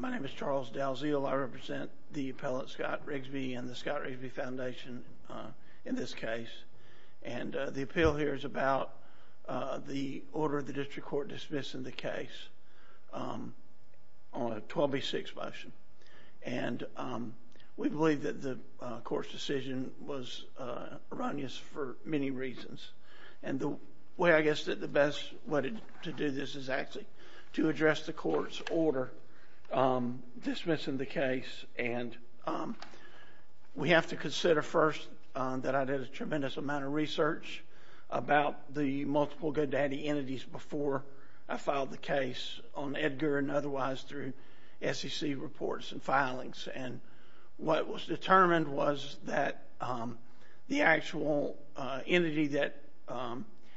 My name is Charles Dalziel. I represent the appellate Scott Rigsby and the Scott Rigsby Foundation in this case, and the appeal here is about the order of the district court dismissing the case on a 12B6 motion, and we believe that the court's decision was erroneous for many reasons. And the way I guess that the best way to do this is actually to address the court's order dismissing the case, and we have to consider first that I did a tremendous amount of research about the multiple GoDaddy entities before I filed the case on Edgar and otherwise through SEC reports and filings. And what was determined was that the actual entity that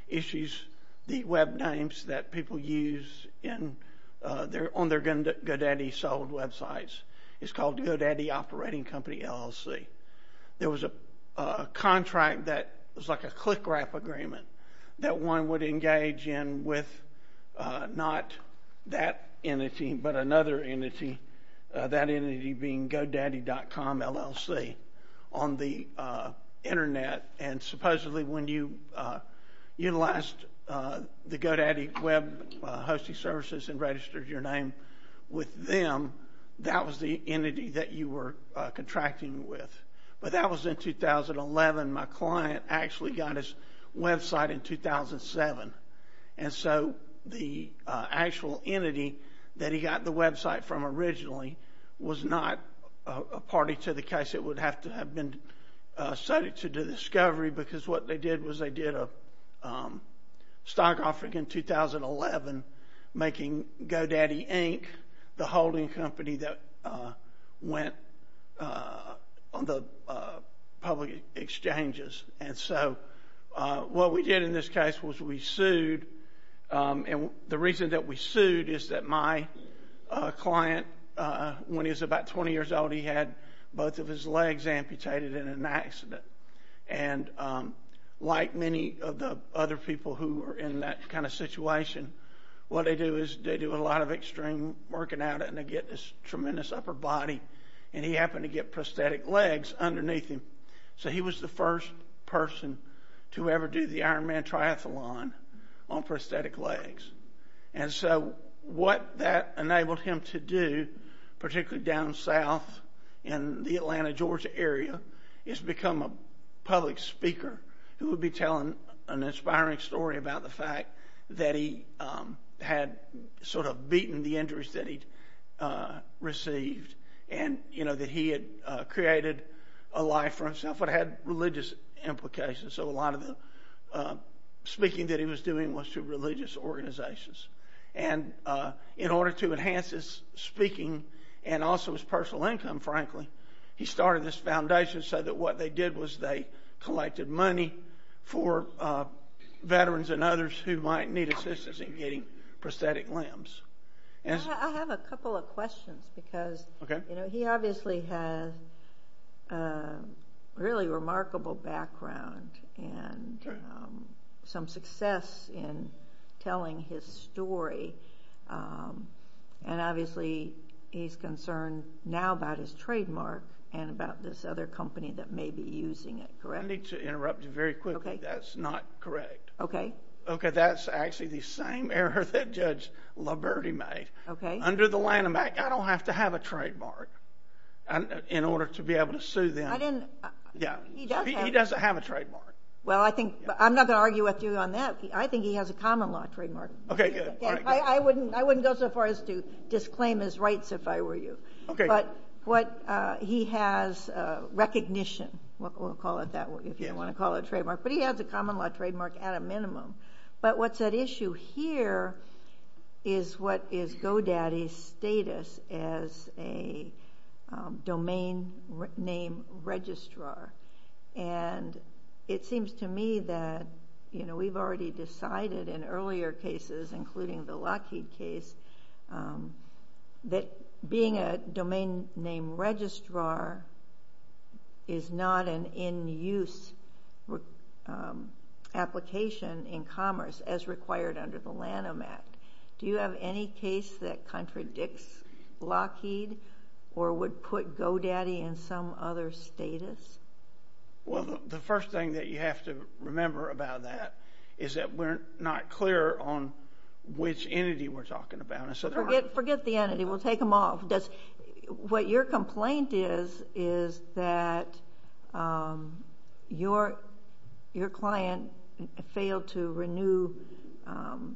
issues the web names that people use on their GoDaddy sold websites is called GoDaddy Operating Company, LLC. There was a contract that was like a click-wrap agreement that one would engage in with not that entity but another entity, that entity being GoDaddy.com, LLC, on the Internet. And supposedly when you utilized the GoDaddy web hosting services and registered your name with them, that was the entity that you were contracting with. But that was in 2011. My client actually got his website in 2007. And so the actual entity that he got the website from originally was not a party to the case. It would have to have been cited to the discovery because what they did was they did a stock offering in 2011 making GoDaddy, Inc. the holding company that went on the public exchanges. And so what we did in this case was we sued. And the reason that we sued is that my client, when he was about 20 years old, he had both of his legs amputated in an accident. And like many of the other people who were in that kind of situation, what they do is they do a lot of extreme working out and they get this tremendous upper body and he happened to get prosthetic legs underneath him. So he was the first person to ever do the Iron Man triathlon on prosthetic legs. And so what that enabled him to do, particularly down south in the Atlanta, Georgia area, is become a public speaker who would be telling an inspiring story about the fact that he had sort of beaten the injuries that he'd received. And that he had created a life for himself that had religious implications. So a lot of the speaking that he was doing was to religious organizations. And in order to enhance his speaking and also his personal income, frankly, he started this foundation so that what they did was they collected money for veterans and others who might need assistance in getting prosthetic limbs. I have a couple of questions because he obviously has a really remarkable background and some success in telling his story. And obviously he's concerned now about his trademark and about this other company that may be using it, correct? I need to interrupt you very quickly. That's not correct. Okay. Okay, that's actually the same error that Judge Laverty made. Okay. Under the Lanham Act, I don't have to have a trademark in order to be able to sue them. He doesn't have a trademark. Well, I'm not going to argue with you on that. I think he has a common law trademark. Okay, good. I wouldn't go so far as to disclaim his rights if I were you. Okay. But he has recognition. We'll call it that if you want to call it a trademark. But he has a common law trademark at a minimum. But what's at issue here is what is GoDaddy's status as a domain name registrar. And it seems to me that we've already decided in earlier cases, including the Lockheed case, that being a domain name registrar is not an in-use application in commerce as required under the Lanham Act. Do you have any case that contradicts Lockheed or would put GoDaddy in some other status? Well, the first thing that you have to remember about that is that we're not clear on which entity we're talking about. Forget the entity. We'll take them off. What your complaint is is that your client failed to renew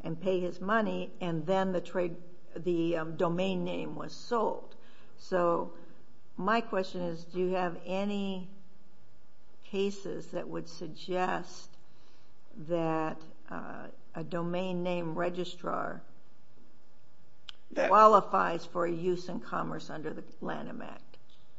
and pay his money, and then the domain name was sold. So my question is, do you have any cases that would suggest that a domain name registrar qualifies for use in commerce under the Lanham Act?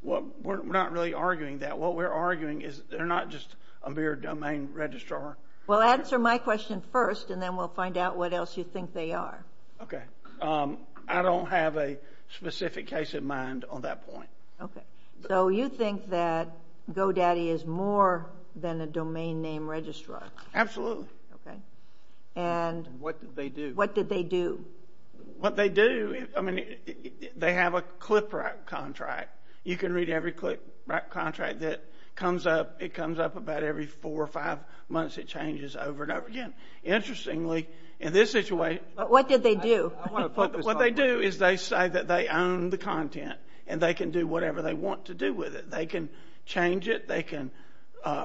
Well, we're not really arguing that. What we're arguing is they're not just a mere domain registrar. Well, answer my question first, and then we'll find out what else you think they are. Okay. I don't have a specific case in mind on that point. Okay. So you think that GoDaddy is more than a domain name registrar? Absolutely. Okay. And what did they do? What did they do? What they do, I mean, they have a CLIPRAC contract. You can read every CLIPRAC contract that comes up. It comes up about every four or five months. It changes over and over again. Interestingly, in this situation. But what did they do? I want to focus on that. What they do is they say that they own the content, and they can do whatever they want to do with it. They can change it. They can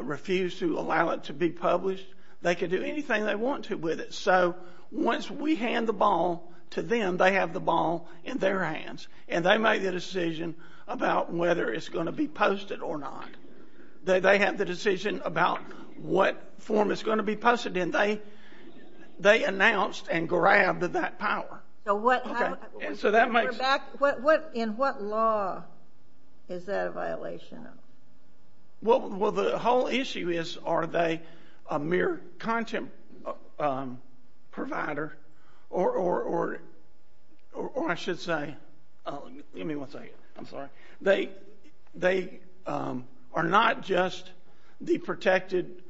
refuse to allow it to be published. They can do anything they want to with it. So once we hand the ball to them, they have the ball in their hands, and they make the decision about whether it's going to be posted or not. They have the decision about what form it's going to be posted in. They announced and grabbed that power. Okay. In what law is that a violation of? Well, the whole issue is are they a mere content provider or, I should say, give me one second. I'm sorry. They are not just the protected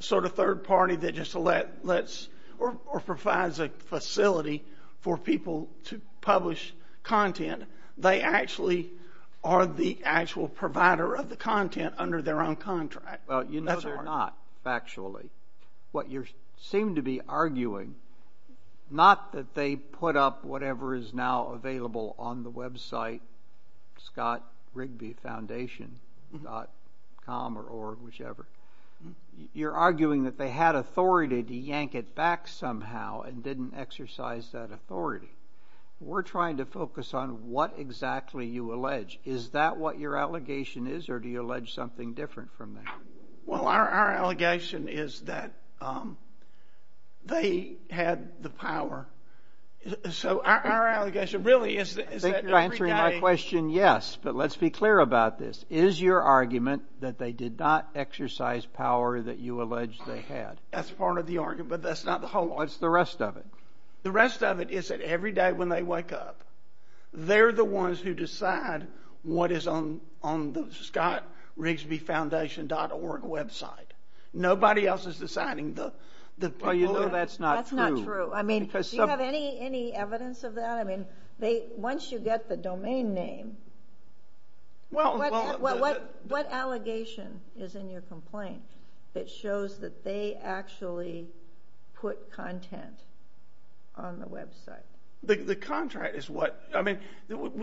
sort of third party that just lets or provides a facility for people to publish content. They actually are the actual provider of the content under their own contract. Well, you know they're not, factually. What you seem to be arguing, not that they put up whatever is now available on the website ScottRigbyFoundation.com or whichever. You're arguing that they had authority to yank it back somehow and didn't exercise that authority. We're trying to focus on what exactly you allege. Is that what your allegation is, or do you allege something different from that? Well, our allegation is that they had the power. So our allegation really is that every day. I think you're answering my question yes, but let's be clear about this. Is your argument that they did not exercise power that you allege they had? That's part of the argument, but that's not the whole argument. What's the rest of it? The rest of it is that every day when they wake up, they're the ones who decide what is on the ScottRigbyFoundation.org website. Nobody else is deciding. Well, you know that's not true. That's not true. Do you have any evidence of that? Once you get the domain name, what allegation is in your complaint that shows that they actually put content on the website? The contract is what – I mean,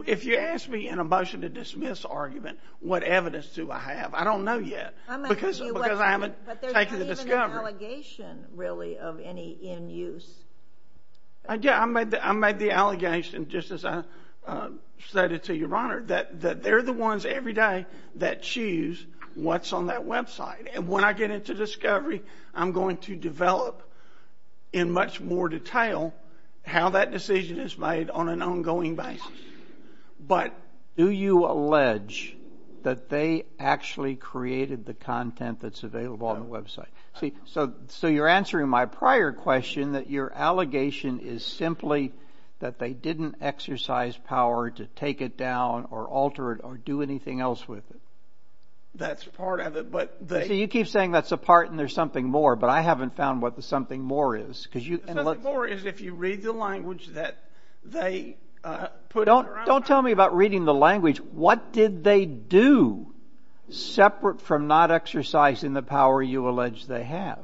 if you ask me in a motion to dismiss argument, what evidence do I have? I don't know yet because I haven't taken the discovery. But there's not even an allegation, really, of any in use. Yeah, I made the allegation, just as I said it to Your Honor, that they're the ones every day that choose what's on that website. And when I get into discovery, I'm going to develop in much more detail how that decision is made on an ongoing basis. But do you allege that they actually created the content that's available on the website? So you're answering my prior question that your allegation is simply that they didn't exercise power to take it down or alter it or do anything else with it. That's part of it, but they – You keep saying that's a part and there's something more, but I haven't found what the something more is. The something more is if you read the language that they put – Don't tell me about reading the language. What did they do separate from not exercising the power you allege they have?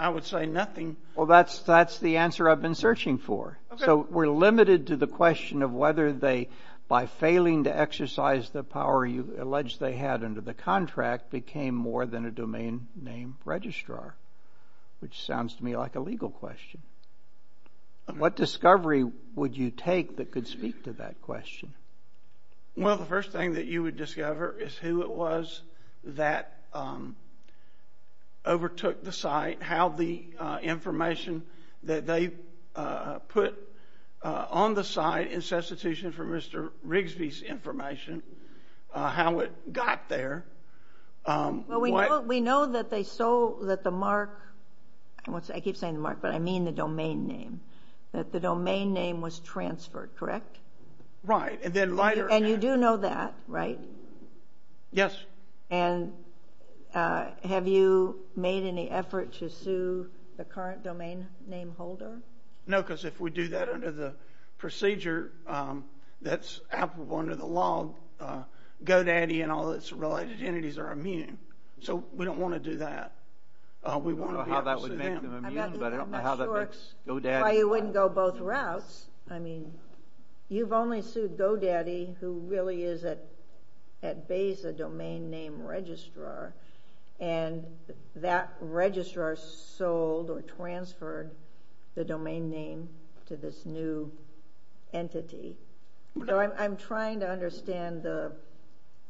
I would say nothing. Well, that's the answer I've been searching for. So we're limited to the question of whether they, by failing to exercise the power you allege they had under the contract, became more than a domain name registrar, which sounds to me like a legal question. What discovery would you take that could speak to that question? Well, the first thing that you would discover is who it was that overtook the site, how the information that they put on the site in substitution for Mr. Rigsby's information, how it got there. We know that they sold – that the mark – I keep saying the mark, but I mean the domain name. That the domain name was transferred, correct? Right. And then later – And you do know that, right? Yes. And have you made any effort to sue the current domain name holder? No, because if we do that under the procedure that's applicable under the law, GoDaddy and all its related entities are immune. So we don't want to do that. We want to be able to sue them. I don't know how that would make them immune, but I don't know how that makes GoDaddy – You've only sued GoDaddy, who really is at base a domain name registrar, and that registrar sold or transferred the domain name to this new entity. So I'm trying to understand the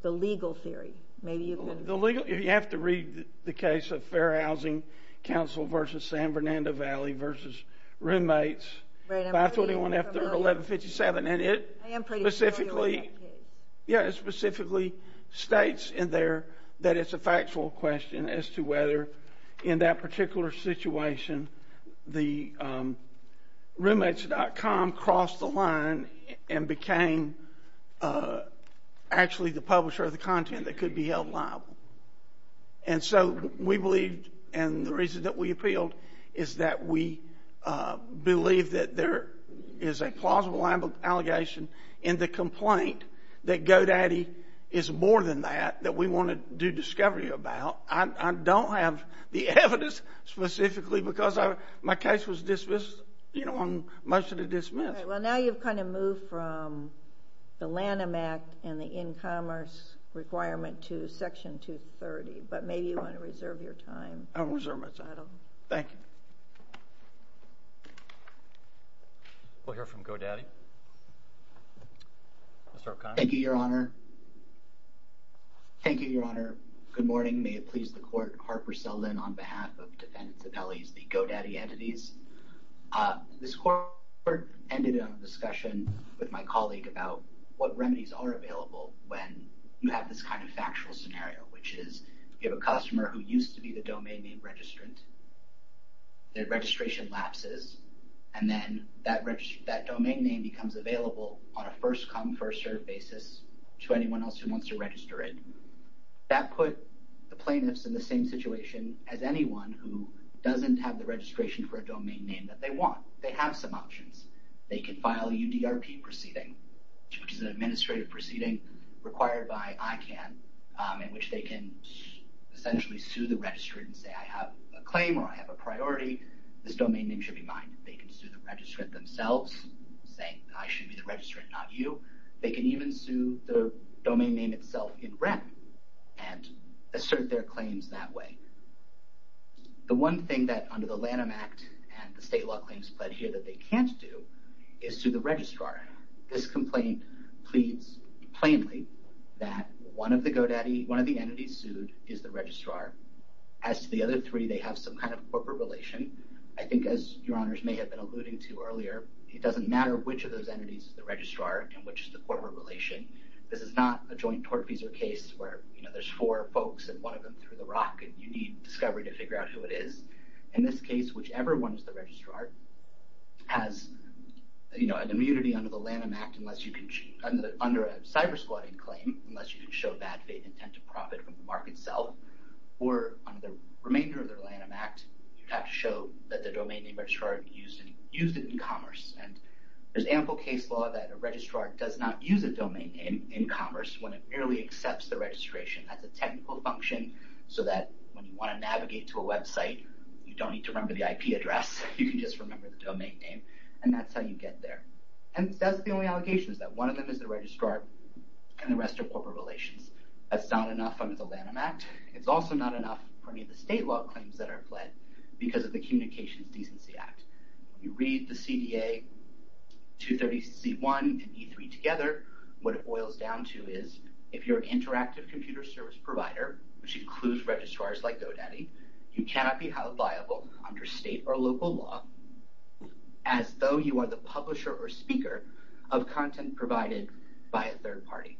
legal theory. Maybe you can – The legal – you have to read the case of Fair Housing Council versus San Fernando Valley versus roommates. Right. And it specifically states in there that it's a factual question as to whether, in that particular situation, the roommates.com crossed the line and became actually the publisher of the content that could be held liable. And so we believe, and the reason that we appealed is that we believe that there is a plausible allegation in the complaint that GoDaddy is more than that that we want to do discovery about. I don't have the evidence specifically because my case was dismissed on motion to dismiss. All right. Well, now you've kind of moved from the Lanham Act and the InCommerce requirement to Section 230, but maybe you want to reserve your time. I'll reserve my time. Thank you. We'll hear from GoDaddy. Mr. O'Connor. Thank you, Your Honor. Thank you, Your Honor. Good morning. May it please the Court, Harper Selden, on behalf of Defendants Appellees, the GoDaddy entities. This court ended a discussion with my colleague about what remedies are available when you have this kind of factual scenario, which is you have a customer who used to be the domain name registrant. Their registration lapses, and then that domain name becomes available on a first-come, first-served basis to anyone else who wants to register it. That put the plaintiffs in the same situation as anyone who doesn't have the registration for a domain name that they want. They have some options. They can file a UDRP proceeding, which is an administrative proceeding required by ICANN, in which they can essentially sue the registrant and say, I have a claim or I have a priority, this domain name should be mine. They can sue the registrant themselves, saying I should be the registrant, not you. They can even sue the domain name itself in red and assert their claims that way. The one thing that under the Lanham Act and the state law claims pled here that they can't do is sue the registrar. This complaint pleads plainly that one of the GoDaddy, one of the entities sued is the registrar. As to the other three, they have some kind of corporate relation. I think, as Your Honors may have been alluding to earlier, it doesn't matter which of those entities is the registrar and which is the corporate relation. This is not a joint tortfeasor case where there's four folks and one of them threw the rock and you need discovery to figure out who it is. In this case, whichever one is the registrar has an immunity under the Lanham Act under a cyber-squatting claim, unless you can show bad faith intent to profit from the market itself, or under the remainder of the Lanham Act, you have to show that the domain name registrar used it in commerce. There's ample case law that a registrar does not use a domain name in commerce when it merely accepts the registration. That's a technical function so that when you want to navigate to a website, you don't need to remember the IP address. You can just remember the domain name, and that's how you get there. That's the only allegations, that one of them is the registrar and the rest are corporate relations. That's not enough under the Lanham Act. It's also not enough for any of the state law claims that are fled because of the Communications Decency Act. You read the CDA 230C1 and E3 together, what it boils down to is if you're an interactive computer service provider, which includes registrars like GoDaddy, you cannot be held liable under state or local law as though you are the publisher or speaker of content provided by a third party.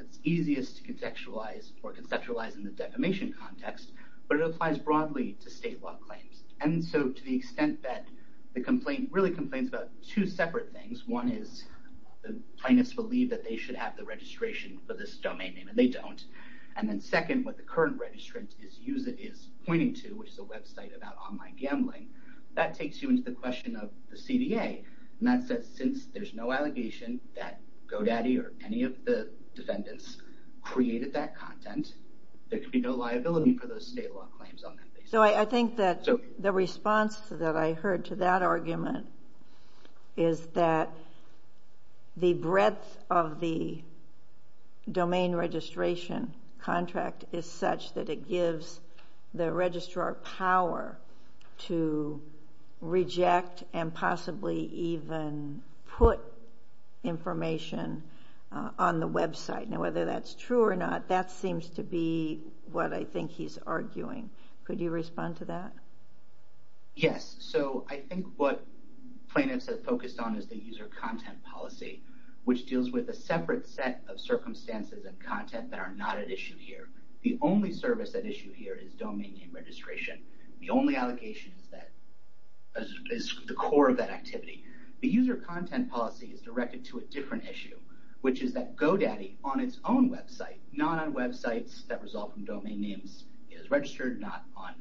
It's easiest to conceptualize in the defamation context, but it applies broadly to state law claims. To the extent that the complaint really complains about two separate things. One is plaintiffs believe that they should have the registration for this domain name, and they don't. Second, what the current registrant is pointing to, which is a website about online gambling, that takes you into the question of the CDA. Since there's no allegation that GoDaddy or any of the defendants created that content, there could be no liability for those state law claims on that basis. I think that the response that I heard to that argument is that the breadth of the domain registration contract is such that it gives the registrar power to reject and possibly even put information on the website. Now whether that's true or not, that seems to be what I think he's arguing. Could you respond to that? Yes. So I think what plaintiffs have focused on is the user content policy, which deals with a separate set of circumstances and content that are not at issue here. The only service at issue here is domain name registration. The only allegation is the core of that activity. The user content policy is directed to a different issue, which is that GoDaddy on its own website, not on websites that result from domain names it has registered, not on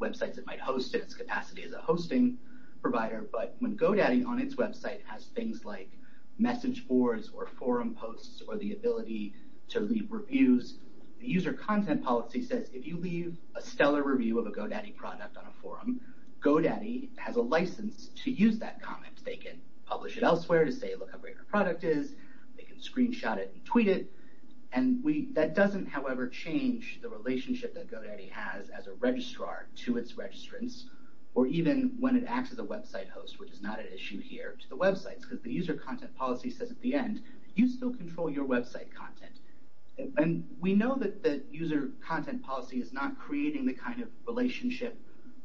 websites it might host in its capacity as a hosting provider, but when GoDaddy on its website has things like message boards or forum posts or the ability to leave reviews, the user content policy says if you leave a stellar review of a GoDaddy product on a forum, GoDaddy has a license to use that comment. They can publish it elsewhere to say look how great our product is. They can screenshot it and tweet it. That doesn't, however, change the relationship that GoDaddy has as a registrar to its registrants or even when it acts as a website host, which is not at issue here to the websites because the user content policy says at the end, you still control your website content. We know that the user content policy is not creating the kind of relationship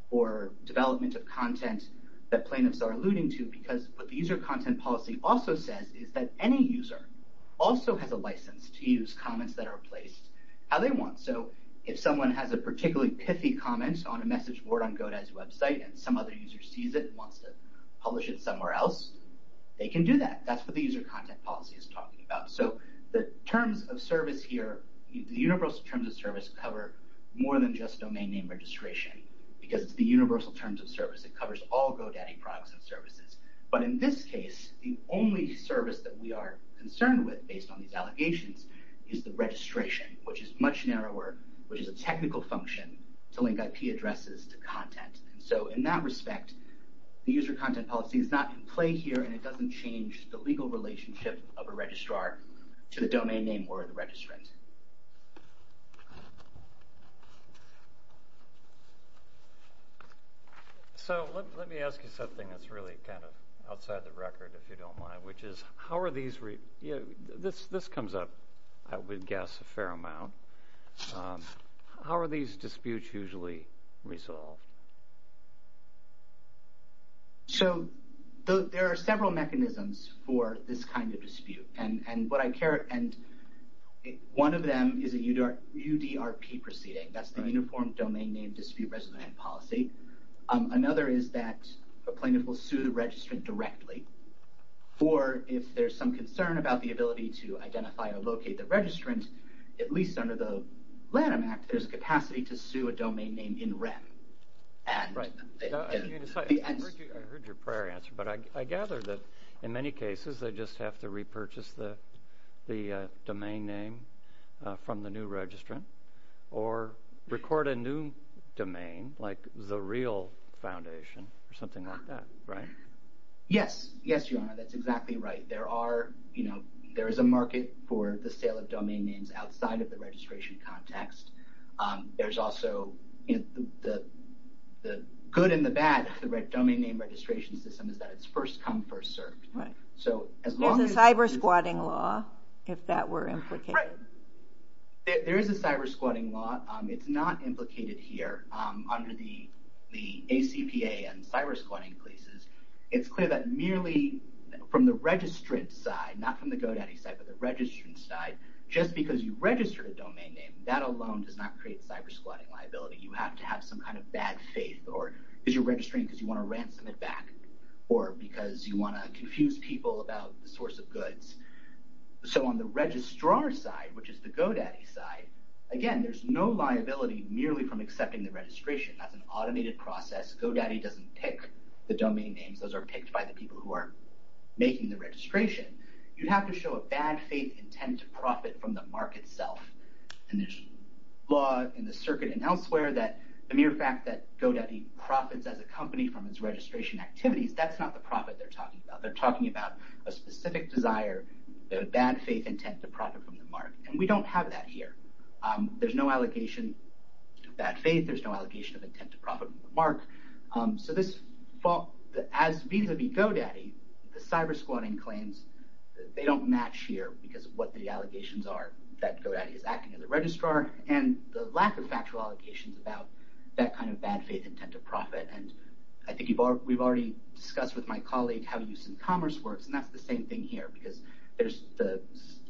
or development of content that plaintiffs are alluding to because what the user content policy also says is that any user also has a license to use comments that are placed how they want. So if someone has a particularly pithy comment on a message board on GoDaddy's website and some other user sees it and wants to publish it somewhere else, they can do that. That's what the user content policy is talking about. So the terms of service here, the universal terms of service cover more than just domain name registration because it's the universal terms of service. It covers all GoDaddy products and services. But in this case, the only service that we are concerned with based on these allegations is the registration, which is much narrower, which is a technical function to link IP addresses to content. So in that respect, the user content policy is not in play here and it doesn't change the legal relationship of a registrar to the domain name or the registrant. So let me ask you something that's really kind of outside the record, if you don't mind, which is how are these—this comes up, I would guess, a fair amount. How are these disputes usually resolved? So there are several mechanisms for this kind of dispute and one of them is a UDRP proceeding. That's the Uniform Domain Name Dispute Residential Policy. Another is that a plaintiff will sue the registrant directly or if there's some concern about the ability to identify or locate the registrant, at least under the Lanham Act, there's capacity to sue a domain name in REM. I heard your prior answer, but I gather that in many cases they just have to repurchase the domain name from the new registrant or record a new domain like the real foundation or something like that, right? Yes. Yes, Your Honor, that's exactly right. There is a market for the sale of domain names outside of the registration context. There's also—the good and the bad of the domain name registration system is that it's first come, first served. Right. There's a cyber squatting law if that were implicated. Right. There is a cyber squatting law. It's not implicated here under the ACPA and cyber squatting places. It's clear that merely from the registrant's side, not from the go-daddy side, but the registrant's side, just because you register a domain name, that alone does not create cyber squatting liability. You have to have some kind of bad faith because you're registering because you want to ransom it back or because you want to confuse people about the source of goods. So on the registrar's side, which is the go-daddy side, again, there's no liability merely from accepting the registration. That's an automated process. Go-daddy doesn't pick the domain names. Those are picked by the people who are making the registration. You have to show a bad faith intent to profit from the mark itself, and there's law in the circuit and elsewhere that the mere fact that go-daddy profits as a company from its registration activities, that's not the profit they're talking about. They're talking about a specific desire, a bad faith intent to profit from the mark, and we don't have that here. There's no allegation of bad faith. There's no allegation of intent to profit from the mark. So as vis-a-vis go-daddy, the cyber squatting claims, they don't match here because of what the allegations are that go-daddy is acting as a registrar and the lack of factual allegations about that kind of bad faith intent to profit, and I think we've already discussed with my colleague how use in commerce works, and that's the same thing here because there's the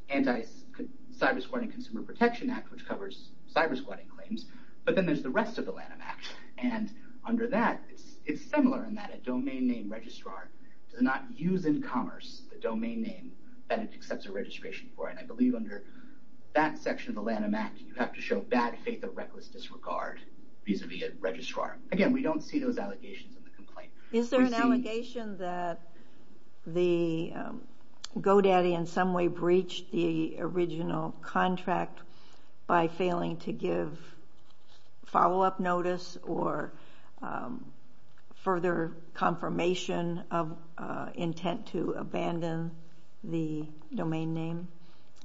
anti-cyber squatting Consumer Protection Act, which covers cyber squatting claims, but then there's the rest of the Lanham Act, and under that it's similar in that a domain name registrar does not use in commerce the domain name that it accepts a registration for, and I believe under that section of the Lanham Act you have to show bad faith or reckless disregard vis-a-vis a registrar. Again, we don't see those allegations in the complaint. Is there an allegation that the go-daddy in some way breached the original contract by failing to give follow-up notice or further confirmation of intent to abandon the domain name?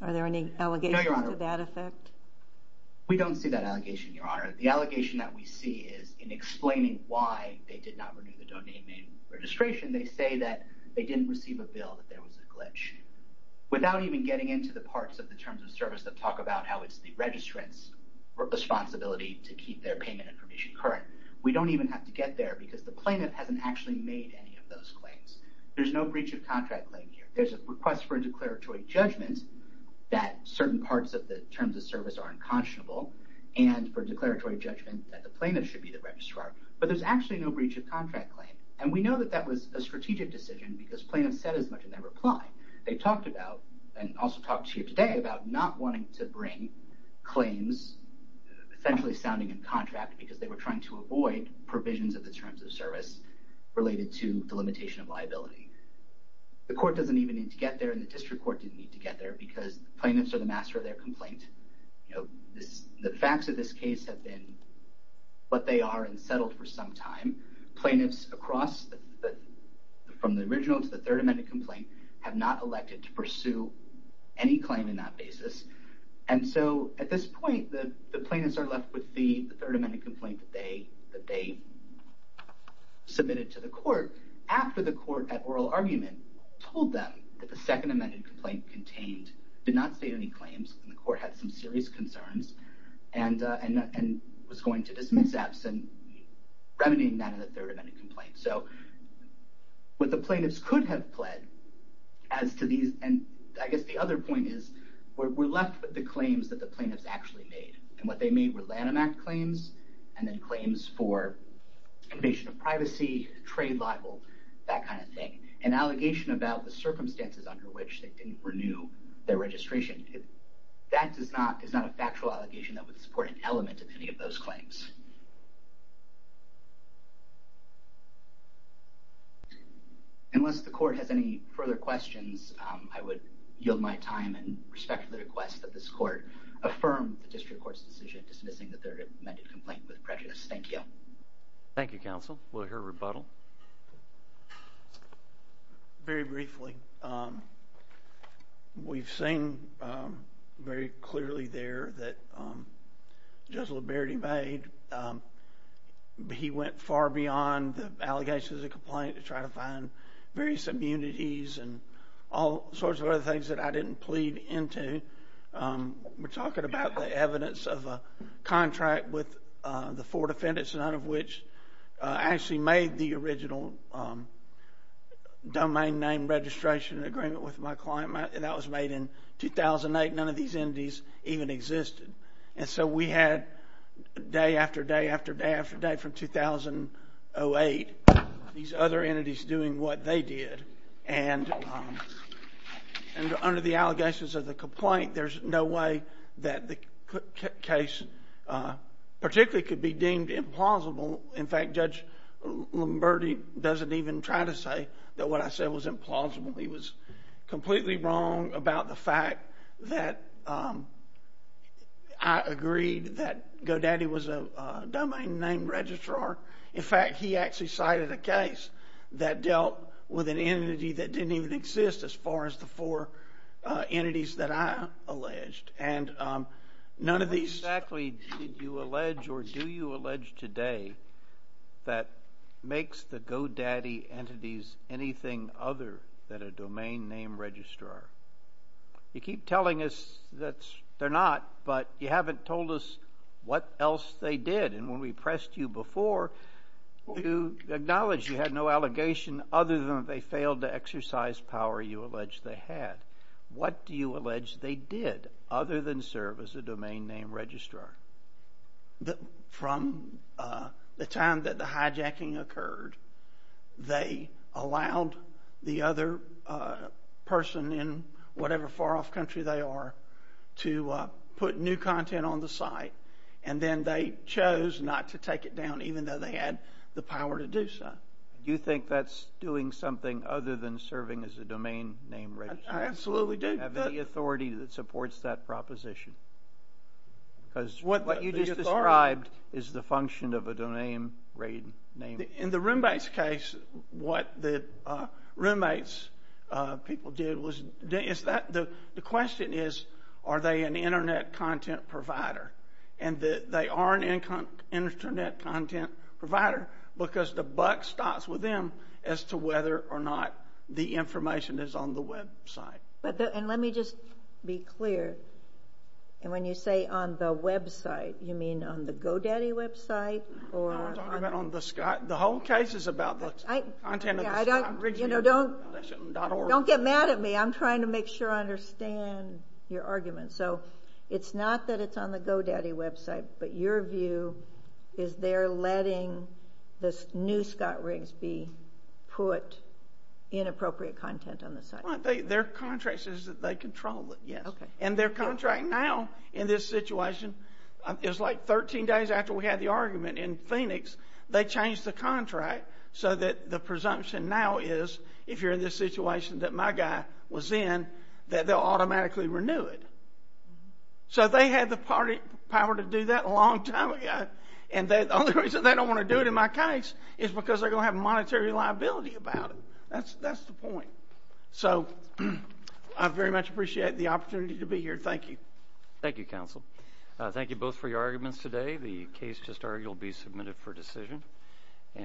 Are there any allegations to that effect? No, Your Honor. We don't see that allegation, Your Honor. The allegation that we see is in explaining why they did not renew the domain name registration, they say that they didn't receive a bill, that there was a glitch, without even getting into the parts of the Terms of Service that talk about how it's the registrant's responsibility to keep their payment information current. We don't even have to get there because the plaintiff hasn't actually made any of those claims. There's no breach of contract claim here. There's a request for a declaratory judgment that certain parts of the Terms of Service are unconscionable and for declaratory judgment that the plaintiff should be the registrar, but there's actually no breach of contract claim, and we know that that was a strategic decision because plaintiffs said as much in their reply. They talked about, and also talked here today, about not wanting to bring claims essentially sounding in contract because they were trying to avoid provisions of the Terms of Service related to the limitation of liability. The court doesn't even need to get there, and the district court didn't need to get there because plaintiffs are the master of their complaint. You know, the facts of this case have been what they are and settled for some time. Plaintiffs across from the original to the Third Amendment complaint have not elected to pursue any claim in that basis, and so at this point the plaintiffs are left with the Third Amendment complaint that they submitted to the court after the court at oral argument told them that the Second Amendment complaint contained, did not state any claims, and the court had some serious concerns and was going to dismiss absent, remediating that in the Third Amendment complaint. So what the plaintiffs could have pled as to these, and I guess the other point is we're left with the claims that the plaintiffs actually made, and what they made were Lanham Act claims and then claims for invasion of privacy, trade libel, that kind of thing. An allegation about the circumstances under which they didn't renew their registration, that is not a factual allegation that would support an element of any of those claims. Unless the court has any further questions, I would yield my time and respect the request that this court affirm the district court's decision dismissing the Third Amendment complaint with prejudice. Thank you. Thank you, counsel. We'll hear a rebuttal. Very briefly, we've seen very clearly there that Judge Liberty made. He went far beyond the allegations of the complaint to try to find various immunities and all sorts of other things that I didn't plead into. We're talking about the evidence of a contract with the four defendants, none of which actually made the original domain name registration agreement with my client. That was made in 2008. None of these entities even existed. And so we had day after day after day after day from 2008 these other entities doing what they did. And under the allegations of the complaint, there's no way that the case particularly could be deemed implausible. In fact, Judge Liberty doesn't even try to say that what I said was implausible. He was completely wrong about the fact that I agreed that GoDaddy was a domain name registrar. In fact, he actually cited a case that dealt with an entity that didn't even exist as far as the four entities that I alleged. And none of these... What exactly did you allege or do you allege today that makes the GoDaddy entities anything other than a domain name registrar? You keep telling us that they're not, but you haven't told us what else they did. And when we pressed you before, you acknowledged you had no allegation other than they failed to exercise power you alleged they had. What do you allege they did other than serve as a domain name registrar? From the time that the hijacking occurred, they allowed the other person in whatever far-off country they are to put new content on the site, and then they chose not to take it down even though they had the power to do so. Do you think that's doing something other than serving as a domain name registrar? I absolutely do. Do you have any authority that supports that proposition? Because what you just described is the function of a domain name registrar. In the Roombates case, what the Roombates people did was, the question is, are they an Internet content provider? And they are an Internet content provider because the buck stops with them as to whether or not the information is on the website. And let me just be clear. And when you say on the website, you mean on the GoDaddy website? No, I'm talking about on the Scott. The whole case is about the content of the Scott. Don't get mad at me. I'm trying to make sure I understand your argument. So it's not that it's on the GoDaddy website, but your view is they're letting the new Scott Riggs be put in appropriate content on the site. Their contract says that they control it, yes. And their contract now in this situation is like 13 days after we had the argument in Phoenix, they changed the contract so that the presumption now is, if you're in this situation that my guy was in, that they'll automatically renew it. So they had the power to do that a long time ago. And the only reason they don't want to do it in my case is because they're going to have monetary liability about it. That's the point. So I very much appreciate the opportunity to be here. Thank you. Thank you, counsel. Thank you both for your arguments today. The case just argued will be submitted for decision.